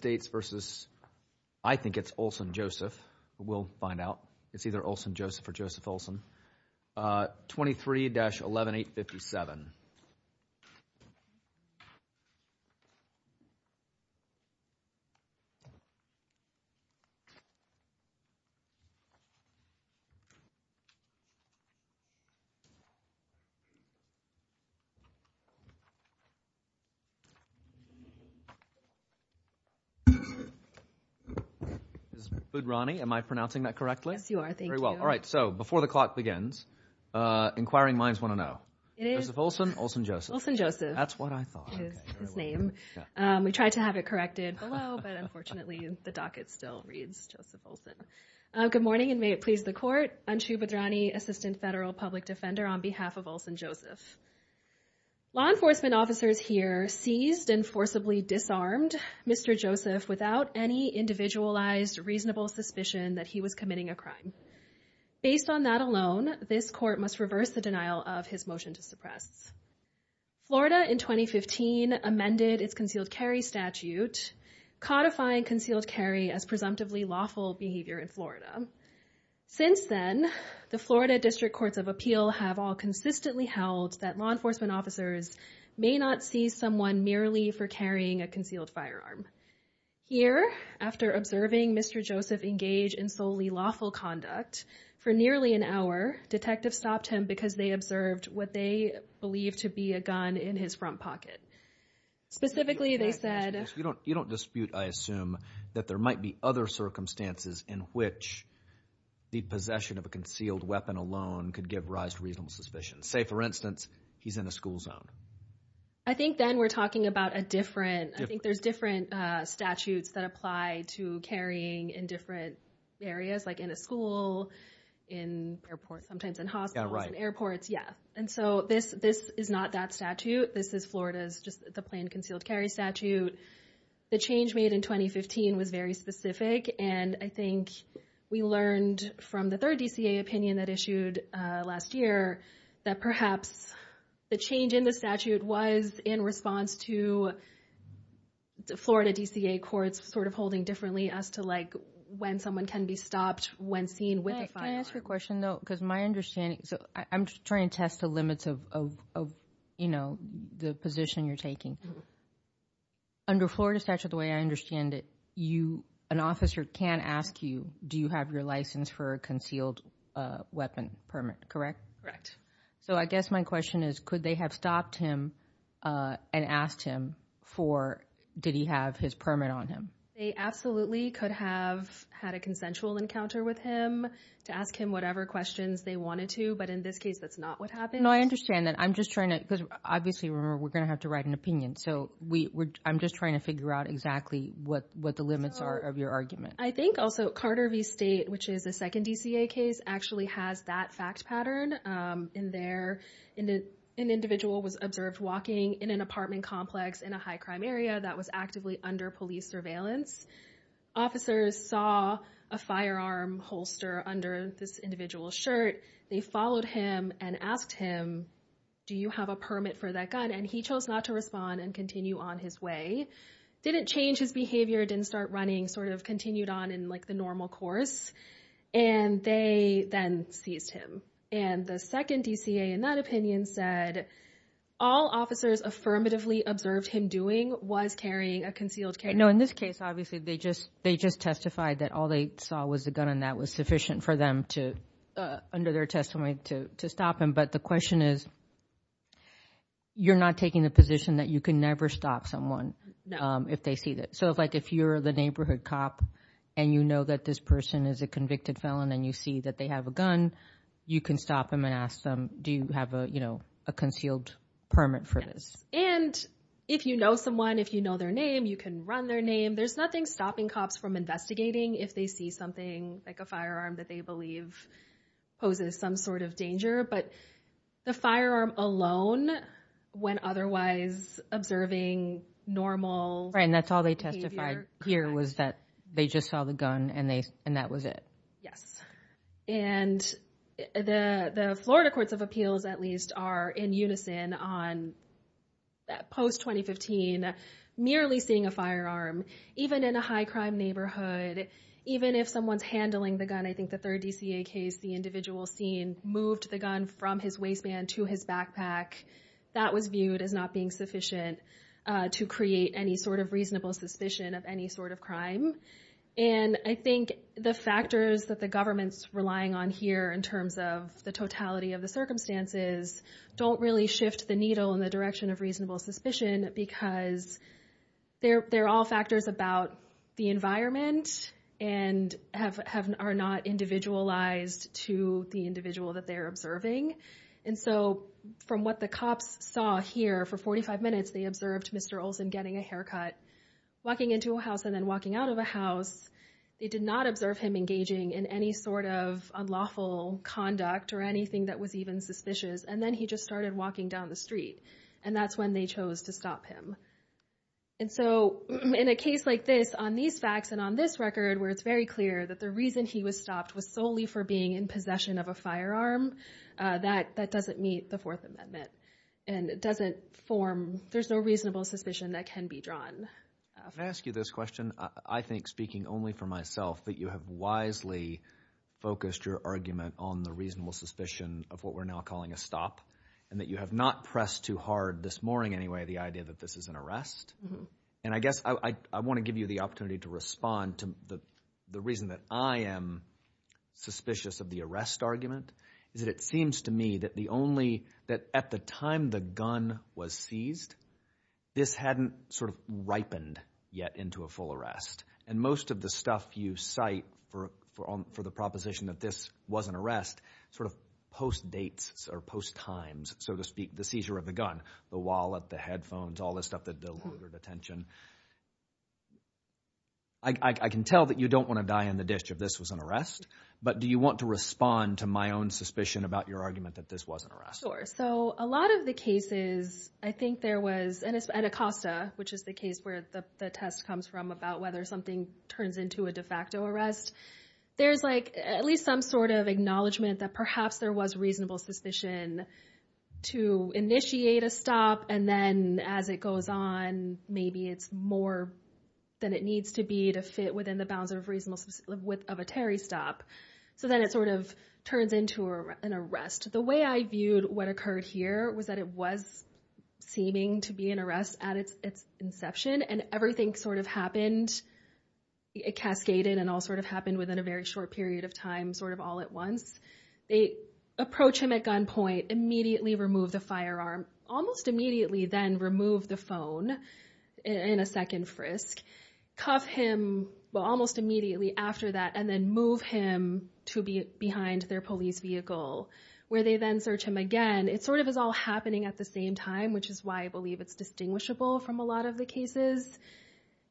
States v. I think it's Olson-Joseph. We'll find out. It's either Olson-Joseph or Joseph-Olson. 23-11857. This is Budrani. Am I pronouncing that correctly? Yes, you are. Thank you. All right. So before the clock begins, inquiring minds want to know. It is Olson-Joseph. Olson-Joseph. That's what I thought. His name. We tried to have it corrected below, but unfortunately the docket still reads Joseph Olson. Good morning and may it please the court. Anshu Budrani, Assistant Federal Public Defender on behalf of Olson-Joseph. Law enforcement officers here seized and forcibly disarmed Mr. Joseph without any individualized reasonable suspicion that he was committing a crime. Based on that alone, this court must reverse the denial of his motion to suppress. Florida in 2015 amended its concealed carry statute, codifying concealed carry as presumptively lawful behavior in Florida. Since then, the Florida District Courts of Appeal have all consistently held that law enforcement officers may not see someone merely for carrying a concealed firearm. Here, after observing Mr. Joseph engage in solely lawful conduct for nearly an hour, detectives stopped him because they observed what they believed to be a gun in his front pocket. Specifically, they said… You don't dispute, I assume, that there might be other circumstances in which the possession of a concealed weapon alone could give rise to reasonable suspicion. Say, for instance, he's in a school zone. I think then we're talking about a different… Different. I think there's different statutes that apply to carrying in different areas, like in a school, in airports, sometimes in hospitals. Yeah, right. It's just the planned concealed carry statute. The change made in 2015 was very specific, and I think we learned from the third DCA opinion that issued last year that perhaps the change in the statute was in response to Florida DCA courts sort of holding differently as to, like, when someone can be stopped when seen with a firearm. Can I ask you a question, though? Because my understanding… So, I'm trying to test the limits of, you know, the position you're taking. Under Florida statute, the way I understand it, you… An officer can ask you, do you have your license for a concealed weapon permit, correct? Correct. So, I guess my question is, could they have stopped him and asked him for… Did he have his permit on him? They absolutely could have had a consensual encounter with him to ask him whatever questions they wanted to, but in this case, that's not what happened. No, I understand that. I'm just trying to… Because, obviously, remember, we're going to have to write an opinion, so I'm just trying to figure out exactly what the limits are of your argument. I think also Carter v. State, which is the second DCA case, actually has that fact pattern in there. An individual was observed walking in an apartment complex in a high-crime area that was actively under police surveillance. Officers saw a firearm holster under this individual's shirt. They followed him and asked him, do you have a permit for that gun? And he chose not to respond and continue on his way. Didn't change his behavior, didn't start running, sort of continued on in, like, the normal course, and they then seized him. And the second DCA, in that opinion, said all officers affirmatively observed him doing was carrying a concealed carry. No, in this case, obviously, they just testified that all they saw was the gun, and that was sufficient for them to, under their testimony, to stop him. But the question is, you're not taking the position that you can never stop someone if they see this. So, like, if you're the neighborhood cop and you know that this person is a convicted felon and you see that they have a gun, you can stop him and ask them, do you have a concealed permit for this? Yes, and if you know someone, if you know their name, you can run their name. There's nothing stopping cops from investigating if they see something like a firearm that they believe poses some sort of danger. But the firearm alone, when otherwise observing normal behavior. Right, and that's all they testified here was that they just saw the gun and that was it. Yes, and the Florida courts of appeals, at least, are in unison on post-2015, merely seeing a firearm, even in a high-crime neighborhood, even if someone's handling the gun. I think the third DCA case, the individual scene, moved the gun from his waistband to his backpack. That was viewed as not being sufficient to create any sort of reasonable suspicion of any sort of crime. And I think the factors that the government's relying on here, in terms of the totality of the circumstances, don't really shift the needle in the direction of reasonable suspicion because they're all factors about the environment and are not individualized to the individual that they're observing. And so from what the cops saw here for 45 minutes, they observed Mr. Olson getting a haircut, walking into a house and then walking out of a house. They did not observe him engaging in any sort of unlawful conduct or anything that was even suspicious. And then he just started walking down the street and that's when they chose to stop him. And so in a case like this, on these facts and on this record, where it's very clear that the reason he was stopped was solely for being in possession of a firearm, that doesn't meet the Fourth Amendment and it doesn't form – there's no reasonable suspicion that can be drawn. I'm going to ask you this question. I think, speaking only for myself, that you have wisely focused your argument on the reasonable suspicion of what we're now calling a stop and that you have not pressed too hard this morning anyway the idea that this is an arrest. And I guess I want to give you the opportunity to respond to the reason that I am suspicious of the arrest argument is that it seems to me that the only – that at the time the gun was seized, this hadn't sort of ripened yet into a full arrest. And most of the stuff you cite for the proposition that this was an arrest sort of post-dates or post-times, so to speak, the seizure of the gun, the wallet, the headphones, all this stuff that deluded attention. I can tell that you don't want to die in the ditch if this was an arrest, but do you want to respond to my own suspicion about your argument that this was an arrest? Sure. So a lot of the cases I think there was – and it's at Acosta, which is the case where the test comes from about whether something turns into a de facto arrest. There's like at least some sort of acknowledgement that perhaps there was reasonable suspicion to initiate a stop and then as it goes on, maybe it's more than it needs to be to fit within the bounds of reasonable – of a Terry stop. So then it sort of turns into an arrest. The way I viewed what occurred here was that it was seeming to be an arrest at its inception, and everything sort of happened – it cascaded and all sort of happened within a very short period of time sort of all at once. They approach him at gunpoint, immediately remove the firearm, almost immediately then remove the phone in a second frisk, cuff him almost immediately after that and then move him to behind their police vehicle where they then search him again. It sort of is all happening at the same time, which is why I believe it's distinguishable from a lot of the cases.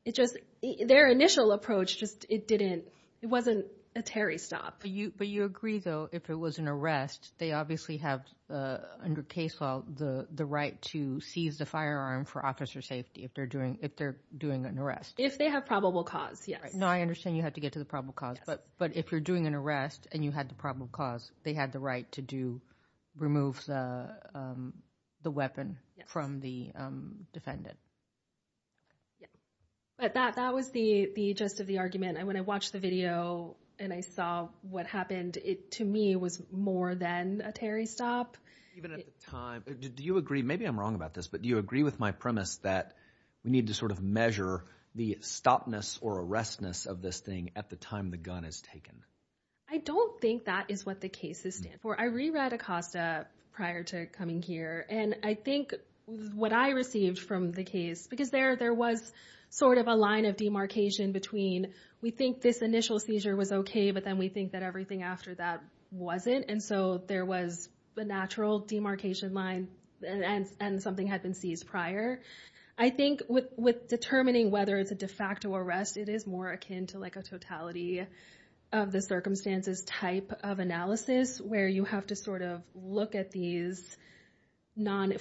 It just – their initial approach just – it didn't – it wasn't a Terry stop. But you agree though if it was an arrest, they obviously have under case law the right to seize the firearm for officer safety if they're doing an arrest. If they have probable cause, yes. Now I understand you have to get to the probable cause, but if you're doing an arrest and you had the probable cause, they had the right to do – remove the weapon from the defendant. But that was the gist of the argument. When I watched the video and I saw what happened, to me it was more than a Terry stop. Even at the time – do you agree – maybe I'm wrong about this, but do you agree with my premise that we need to sort of measure the stopness or arrestness of this thing at the time the gun is taken? I don't think that is what the cases stand for. I reread Acosta prior to coming here, and I think what I received from the case – because there was sort of a line of demarcation between we think this initial seizure was okay, but then we think that everything after that wasn't, and so there was a natural demarcation line and something had been seized prior. I think with determining whether it's a de facto arrest, it is more akin to like a totality of the circumstances type of analysis where you have to sort of look at these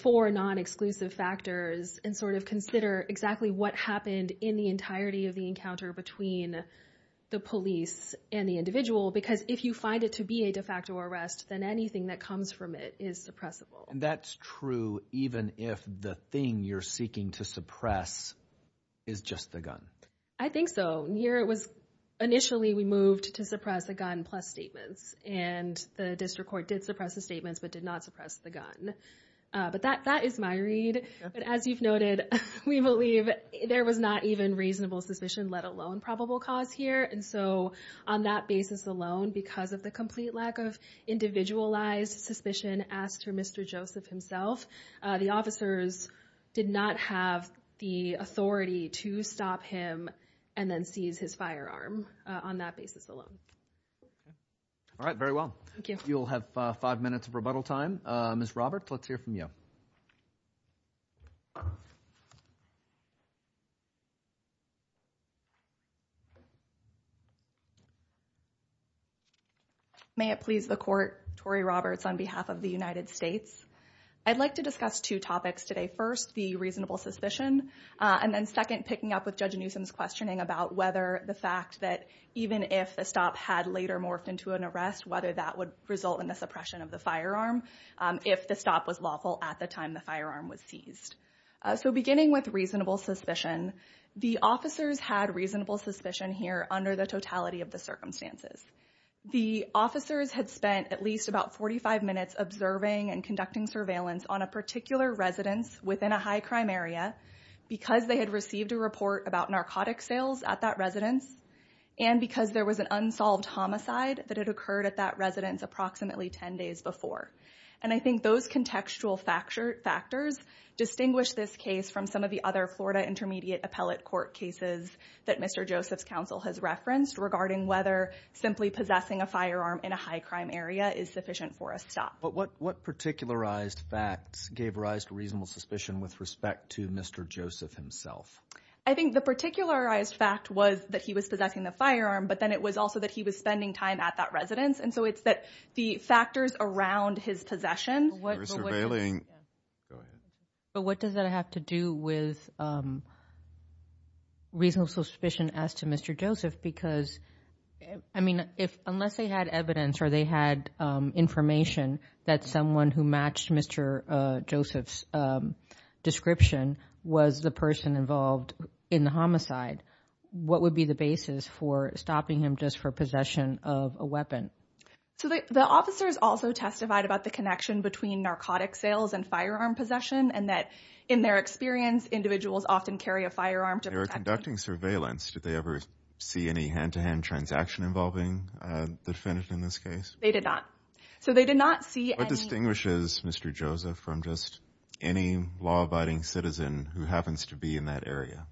four non-exclusive factors and sort of consider exactly what happened in the entirety of the encounter between the police and the individual, because if you find it to be a de facto arrest, then anything that comes from it is suppressible. And that's true even if the thing you're seeking to suppress is just the gun? I think so. Here it was – initially we moved to suppress the gun plus statements, and the district court did suppress the statements but did not suppress the gun. But that is my read. But as you've noted, we believe there was not even reasonable suspicion, let alone probable cause here. And so on that basis alone, because of the complete lack of individualized suspicion asked for Mr. Joseph himself, the officers did not have the authority to stop him and then seize his firearm on that basis alone. All right, very well. You'll have five minutes of rebuttal time. Ms. Roberts, let's hear from you. May it please the court, Tori Roberts on behalf of the United States. I'd like to discuss two topics today. First, the reasonable suspicion, and then second, picking up with Judge Newsom's questioning about whether the fact that even if the stop had later morphed into an arrest, whether that would result in the suppression of the firearm if the stop was lawful at the time the firearm was seized. So beginning with reasonable suspicion, the officers had reasonable suspicion here under the totality of the circumstances. The officers had spent at least about 45 minutes observing and conducting surveillance on a particular residence within a high-crime area because they had received a report about narcotic sales at that residence and because there was an unsolved homicide that had occurred at that residence approximately 10 days before. And I think those contextual factors distinguish this case from some of the other Florida intermediate appellate court cases that Mr. Joseph's counsel has referenced regarding whether simply possessing a firearm in a high-crime area is sufficient for a stop. But what particularized facts gave rise to reasonable suspicion with respect to Mr. Joseph himself? I think the particularized fact was that he was possessing the firearm, but then it was also that he was spending time at that residence. And so it's that the factors around his possession— They were surveilling—go ahead. But what does that have to do with reasonable suspicion as to Mr. Joseph? Because, I mean, unless they had evidence or they had information that someone who matched Mr. Joseph's description was the person involved in the homicide, what would be the basis for stopping him just for possession of a weapon? So the officers also testified about the connection between narcotic sales and firearm possession and that in their experience, individuals often carry a firearm to protect them. During surveillance, did they ever see any hand-to-hand transaction involving the defendant in this case? They did not. So they did not see any— What distinguishes Mr. Joseph from just any law-abiding citizen who happens to be in that area?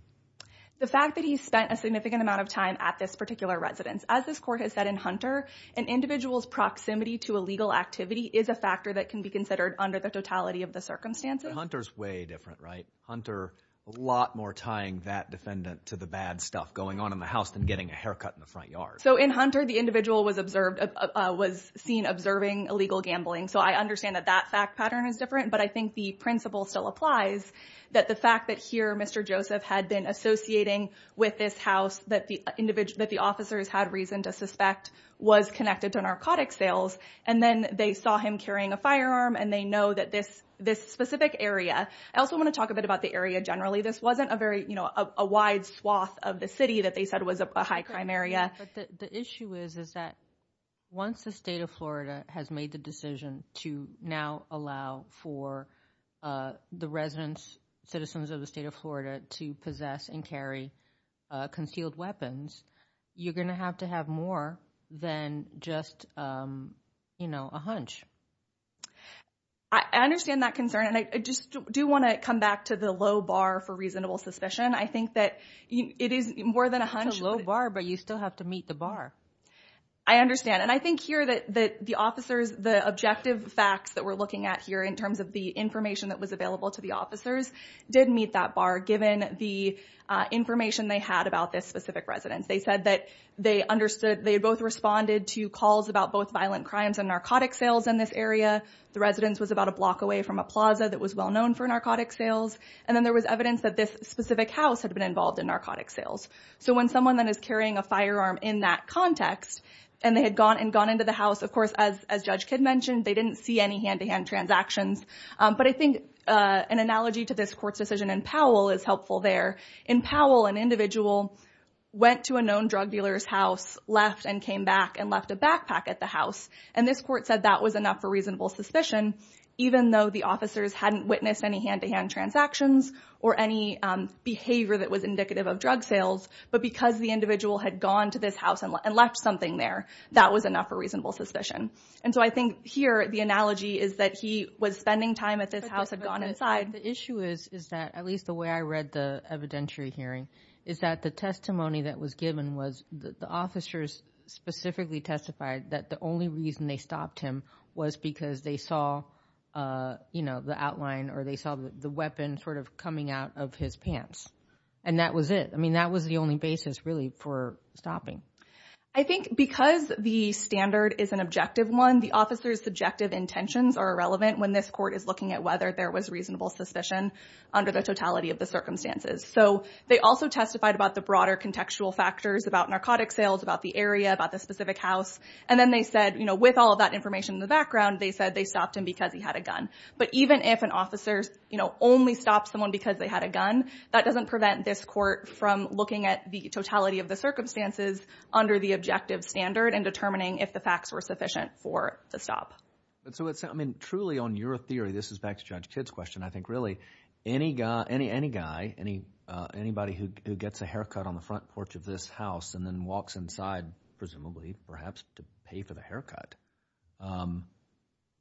The fact that he spent a significant amount of time at this particular residence. As this court has said in Hunter, an individual's proximity to illegal activity is a factor that can be considered under the totality of the circumstances. But Hunter's way different, right? Hunter, a lot more tying that defendant to the bad stuff going on in the house than getting a haircut in the front yard. So in Hunter, the individual was observed—was seen observing illegal gambling. So I understand that that fact pattern is different. But I think the principle still applies, that the fact that here Mr. Joseph had been associating with this house that the officers had reason to suspect was connected to narcotic sales. And then they saw him carrying a firearm and they know that this specific area— I also want to talk a bit about the area generally. This wasn't a very, you know, a wide swath of the city that they said was a high-crime area. But the issue is that once the state of Florida has made the decision to now allow for the residents, citizens of the state of Florida to possess and carry concealed weapons, you're going to have to have more than just, you know, a hunch. I understand that concern. And I just do want to come back to the low bar for reasonable suspicion. I think that it is more than a hunch. It's a low bar, but you still have to meet the bar. I understand. And I think here that the officers—the objective facts that we're looking at here in terms of the information that was available to the officers did meet that bar given the information they had about this specific residence. They said that they understood—they both responded to calls about both violent crimes and narcotic sales in this area. The residence was about a block away from a plaza that was well-known for narcotic sales. And then there was evidence that this specific house had been involved in narcotic sales. So when someone then is carrying a firearm in that context and they had gone into the house, of course, as Judge Kidd mentioned, they didn't see any hand-to-hand transactions. But I think an analogy to this Court's decision in Powell is helpful there. In Powell, an individual went to a known drug dealer's house, left and came back, and left a backpack at the house. And this Court said that was enough for reasonable suspicion even though the officers hadn't witnessed any hand-to-hand transactions or any behavior that was indicative of drug sales. But because the individual had gone to this house and left something there, that was enough for reasonable suspicion. And so I think here the analogy is that he was spending time at this house and had gone inside. But the issue is that, at least the way I read the evidentiary hearing, is that the testimony that was given was that the officers specifically testified that the only reason they stopped him was because they saw, you know, the outline or they saw the weapon sort of coming out of his pants. And that was it. I mean, that was the only basis really for stopping. I think because the standard is an objective one, the officers' subjective intentions are irrelevant when this Court is looking at whether there was reasonable suspicion under the totality of the circumstances. So they also testified about the broader contextual factors, about narcotic sales, about the area, about the specific house. And then they said, you know, with all of that information in the background, they said they stopped him because he had a gun. But even if an officer, you know, only stops someone because they had a gun, that doesn't prevent this Court from looking at the totality of the circumstances under the objective standard and determining if the facts were sufficient for the stop. So, I mean, truly on your theory, this is back to Judge Kidd's question, I think really any guy, anybody who gets a haircut on the front porch of this house and then walks inside, presumably perhaps to pay for the haircut,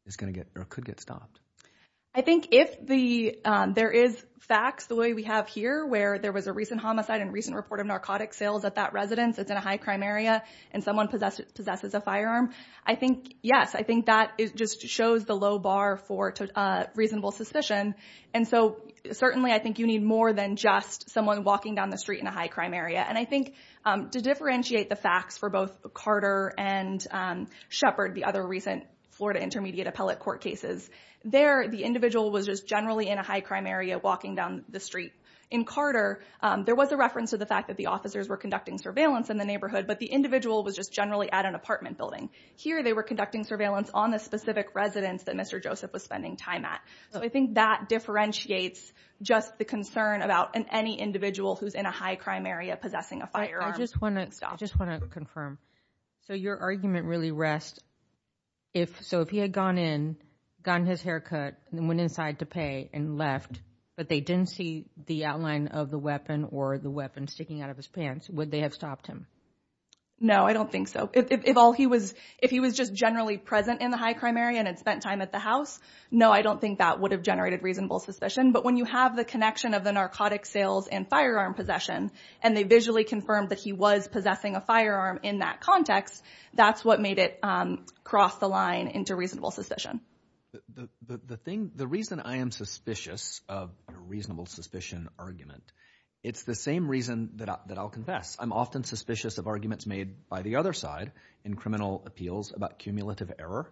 is going to get or could get stopped. I think if there is facts the way we have here, where there was a recent homicide and recent report of narcotic sales at that residence that's in a high-crime area and someone possesses a firearm, I think, yes, I think that just shows the low bar for reasonable suspicion. And so certainly I think you need more than just someone walking down the street in a high-crime area. And I think to differentiate the facts for both Carter and Shepard, the other recent Florida Intermediate Appellate Court cases, there the individual was just generally in a high-crime area walking down the street. In Carter, there was a reference to the fact that the officers were conducting surveillance in the neighborhood, but the individual was just generally at an apartment building. Here they were conducting surveillance on the specific residence that Mr. Joseph was spending time at. So I think that differentiates just the concern about any individual who's in a high-crime area possessing a firearm. I just want to confirm, so your argument really rests, so if he had gone in, gotten his hair cut, and went inside to pay and left, but they didn't see the outline of the weapon or the weapon sticking out of his pants, would they have stopped him? No, I don't think so. If he was just generally present in the high-crime area and had spent time at the house, no, I don't think that would have generated reasonable suspicion. But when you have the connection of the narcotic sales and firearm possession and they visually confirmed that he was possessing a firearm in that context, that's what made it cross the line into reasonable suspicion. The reason I am suspicious of a reasonable suspicion argument, it's the same reason that I'll confess. I'm often suspicious of arguments made by the other side in criminal appeals about cumulative error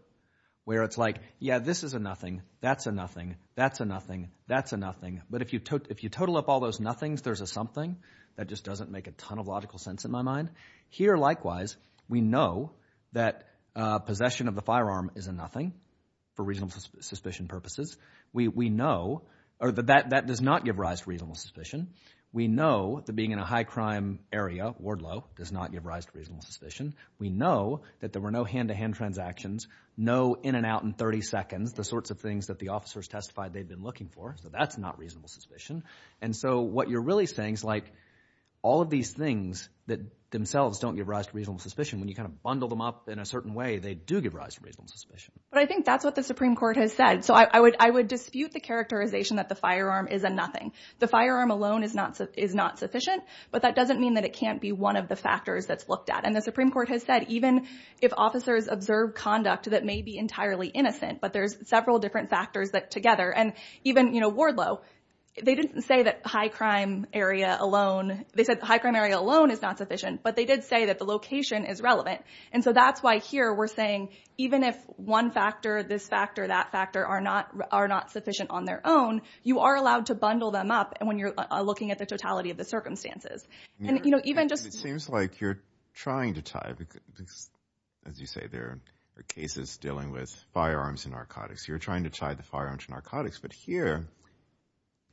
where it's like, yeah, this is a nothing, that's a nothing, that's a nothing, that's a nothing, but if you total up all those nothings, there's a something that just doesn't make a ton of logical sense in my mind. Here, likewise, we know that possession of the firearm is a nothing for reasonable suspicion purposes. We know that that does not give rise to reasonable suspicion. We know that being in a high-crime area, Wardlow, does not give rise to reasonable suspicion. We know that there were no hand-to-hand transactions, no in-and-out-in-30-seconds, the sorts of things that the officers testified they'd been looking for, so that's not reasonable suspicion. And so what you're really saying is like all of these things that themselves don't give rise to reasonable suspicion, when you kind of bundle them up in a certain way, they do give rise to reasonable suspicion. But I think that's what the Supreme Court has said. So I would dispute the characterization that the firearm is a nothing. The firearm alone is not sufficient, but that doesn't mean that it can't be one of the factors that's looked at. And the Supreme Court has said even if officers observe conduct that may be entirely innocent, but there's several different factors that together, and even, you know, Wardlow, they didn't say that high-crime area alone, they said high-crime area alone is not sufficient, but they did say that the location is relevant. And so that's why here we're saying even if one factor, this factor, that factor, are not sufficient on their own, you are allowed to bundle them up when you're looking at the totality of the circumstances. And, you know, even just— It seems like you're trying to tie, as you say, there are cases dealing with firearms and narcotics. You're trying to tie the firearm to narcotics. But here,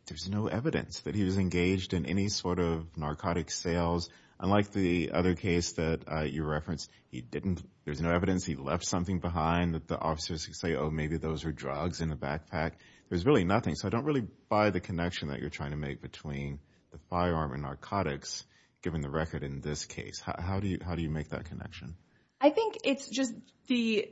there's no evidence that he was engaged in any sort of narcotic sales. Unlike the other case that you referenced, he didn't— there's no evidence he left something behind that the officers could say, oh, maybe those are drugs in a backpack. There's really nothing. So I don't really buy the connection that you're trying to make between the firearm and narcotics, given the record in this case. How do you make that connection? I think it's just the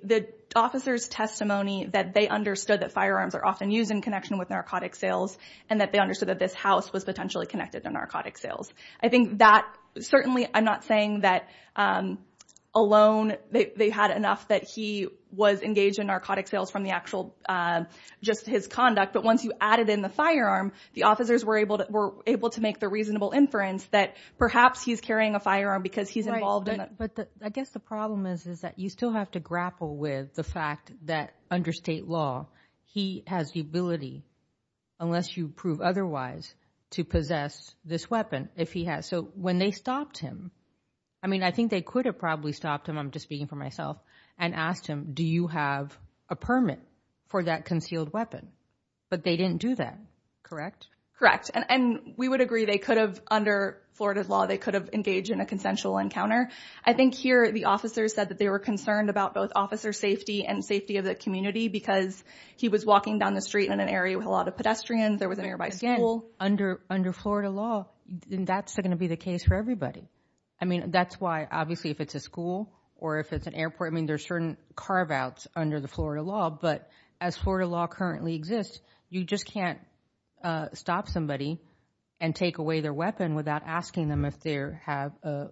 officer's testimony that they understood that firearms are often used in connection with narcotic sales and that they understood that this house was potentially connected to narcotic sales. I think that—certainly I'm not saying that alone they had enough that he was engaged in narcotic sales from the actual—just his conduct. But once you added in the firearm, the officers were able to make the reasonable inference that perhaps he's carrying a firearm because he's involved in it. But I guess the problem is that you still have to grapple with the fact that under state law, he has the ability, unless you prove otherwise, to possess this weapon if he has. So when they stopped him—I mean, I think they could have probably stopped him, I'm just speaking for myself, and asked him, do you have a permit for that concealed weapon? But they didn't do that, correct? Correct. And we would agree they could have, under Florida's law, they could have engaged in a consensual encounter. I think here the officers said that they were concerned about both officer safety and safety of the community because he was walking down the street in an area with a lot of pedestrians. There was a nearby school. Again, under Florida law, that's going to be the case for everybody. I mean, that's why, obviously, if it's a school or if it's an airport, I mean, there's certain carve-outs under the Florida law. But as Florida law currently exists, you just can't stop somebody and take away their weapon without asking them if they have a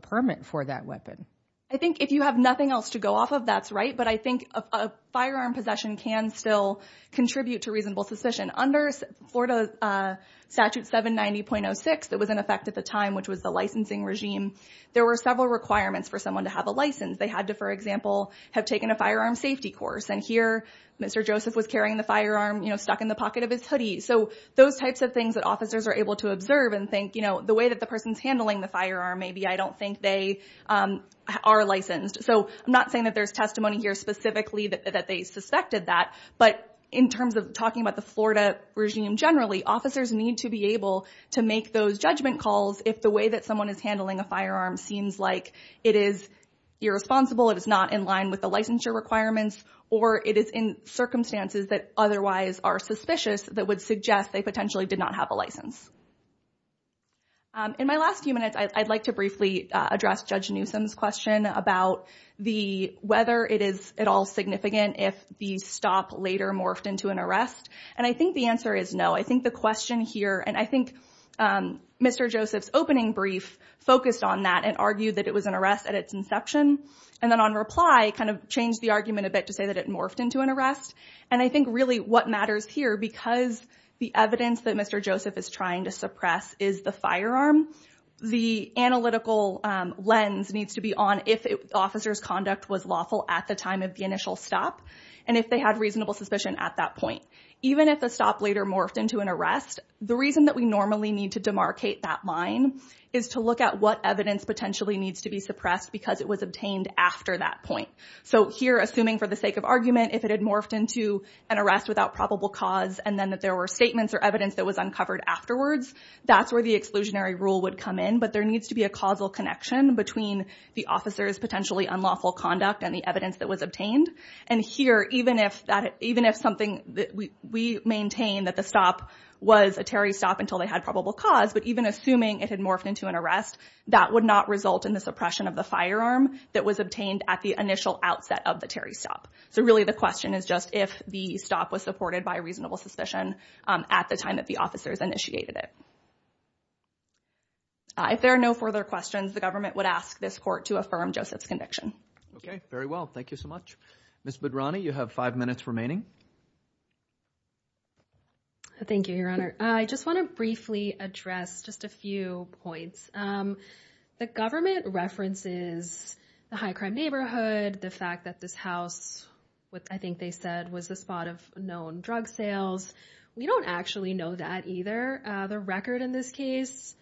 permit for that weapon. I think if you have nothing else to go off of, that's right. But I think a firearm possession can still contribute to reasonable suspicion. Under Florida Statute 790.06 that was in effect at the time, which was the licensing regime, there were several requirements for someone to have a license. They had to, for example, have taken a firearm safety course. And here Mr. Joseph was carrying the firearm, you know, stuck in the pocket of his hoodie. So those types of things that officers are able to observe and think, you know, the way that the person's handling the firearm, maybe I don't think they are licensed. So I'm not saying that there's testimony here specifically that they suspected that. But in terms of talking about the Florida regime generally, officers need to be able to make those judgment calls if the way that someone is handling a firearm seems like it is irresponsible, it is not in line with the licensure requirements, or it is in circumstances that otherwise are suspicious that would suggest they potentially did not have a license. In my last few minutes, I'd like to briefly address Judge Newsom's question about whether it is at all significant if the stop later morphed into an arrest. And I think the answer is no. I think the question here, and I think Mr. Joseph's opening brief focused on that and argued that it was an arrest at its inception. And then on reply, kind of changed the argument a bit to say that it morphed into an arrest. And I think really what matters here, because the evidence that Mr. Joseph is trying to suppress is the firearm, the analytical lens needs to be on if the officer's conduct was lawful at the time of the initial stop and if they had reasonable suspicion at that point. Even if the stop later morphed into an arrest, the reason that we normally need to demarcate that line is to look at what evidence potentially needs to be suppressed because it was obtained after that point. So here, assuming for the sake of argument, if it had morphed into an arrest without probable cause and then that there were statements or evidence that was uncovered afterwards, that's where the exclusionary rule would come in. But there needs to be a causal connection between the officer's potentially unlawful conduct and the evidence that was obtained. And here, even if something that we maintain that the stop was a Terry stop until they had probable cause, but even assuming it had morphed into an arrest, that would not result in the suppression of the firearm that was obtained at the initial outset of the Terry stop. So really the question is just if the stop was supported by reasonable suspicion at the time that the officers initiated it. If there are no further questions, the government would ask this court to affirm Joseph's conviction. Okay, very well. Thank you so much. Ms. Bedrani, you have five minutes remaining. Thank you, Your Honor. I just want to briefly address just a few points. The government references the high-crime neighborhood, the fact that this house, what I think they said was the spot of known drug sales. We don't actually know that either. The record in this case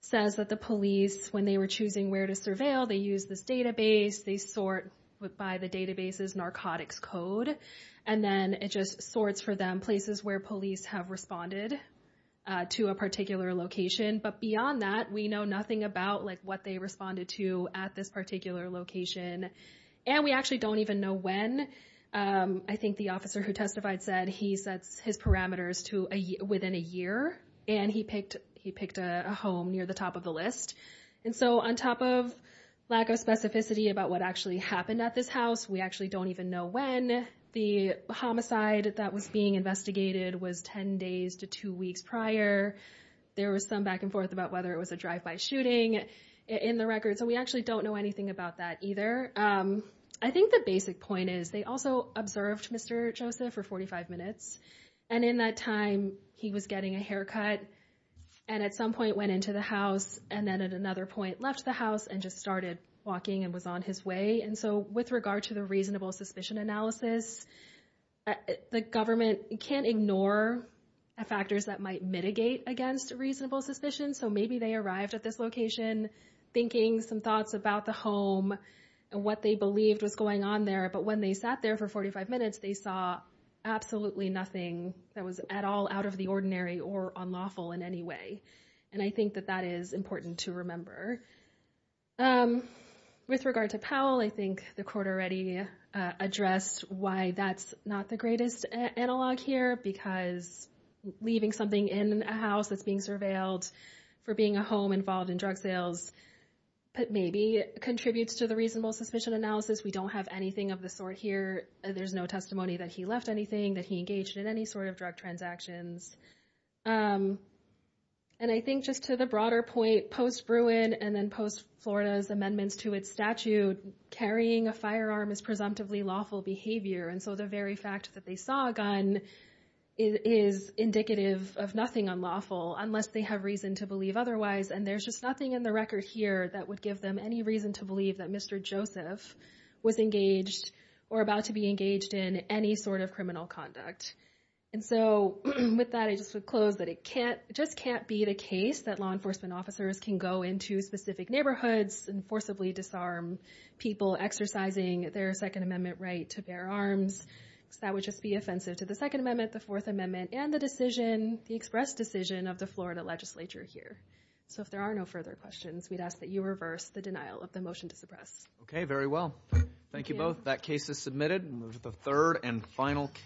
says that the police, when they were choosing where to surveil, they used this database, they sort by the database's narcotics code, and then it just sorts for them places where police have responded to a particular location. But beyond that, we know nothing about what they responded to at this particular location, and we actually don't even know when. I think the officer who testified said he sets his parameters to within a year, and he picked a home near the top of the list. And so on top of lack of specificity about what actually happened at this house, we actually don't even know when. The homicide that was being investigated was ten days to two weeks prior. There was some back and forth about whether it was a drive-by shooting in the record, so we actually don't know anything about that either. I think the basic point is they also observed Mr. Joseph for 45 minutes, and in that time he was getting a haircut and at some point went into the house and then at another point left the house and just started walking and was on his way. And so with regard to the reasonable suspicion analysis, the government can't ignore factors that might mitigate against reasonable suspicion, so maybe they arrived at this location thinking some thoughts about the home and what they believed was going on there, but when they sat there for 45 minutes, they saw absolutely nothing that was at all out of the ordinary or unlawful in any way. And I think that that is important to remember. With regard to Powell, I think the court already addressed why that's not the greatest analog here, because leaving something in a house that's being surveilled for being a home involved in drug sales maybe contributes to the reasonable suspicion analysis. We don't have anything of the sort here. There's no testimony that he left anything, that he engaged in any sort of drug transactions. And I think just to the broader point, post-Bruin and then post-Florida's amendments to its statute, carrying a firearm is presumptively lawful behavior, and so the very fact that they saw a gun is indicative of nothing unlawful unless they have reason to believe otherwise, and there's just nothing in the record here that would give them any reason to believe that Mr. Joseph was engaged or about to be engaged in any sort of criminal conduct. And so with that, I just would close that it just can't be the case that law enforcement officers can go into specific neighborhoods and forcibly disarm people exercising their Second Amendment right to bear arms. That would just be offensive to the Second Amendment, the Fourth Amendment, and the express decision of the Florida legislature here. So if there are no further questions, we'd ask that you reverse the denial of the motion to suppress. Okay, very well. Thank you both. That case is submitted. We'll move to the third and final case.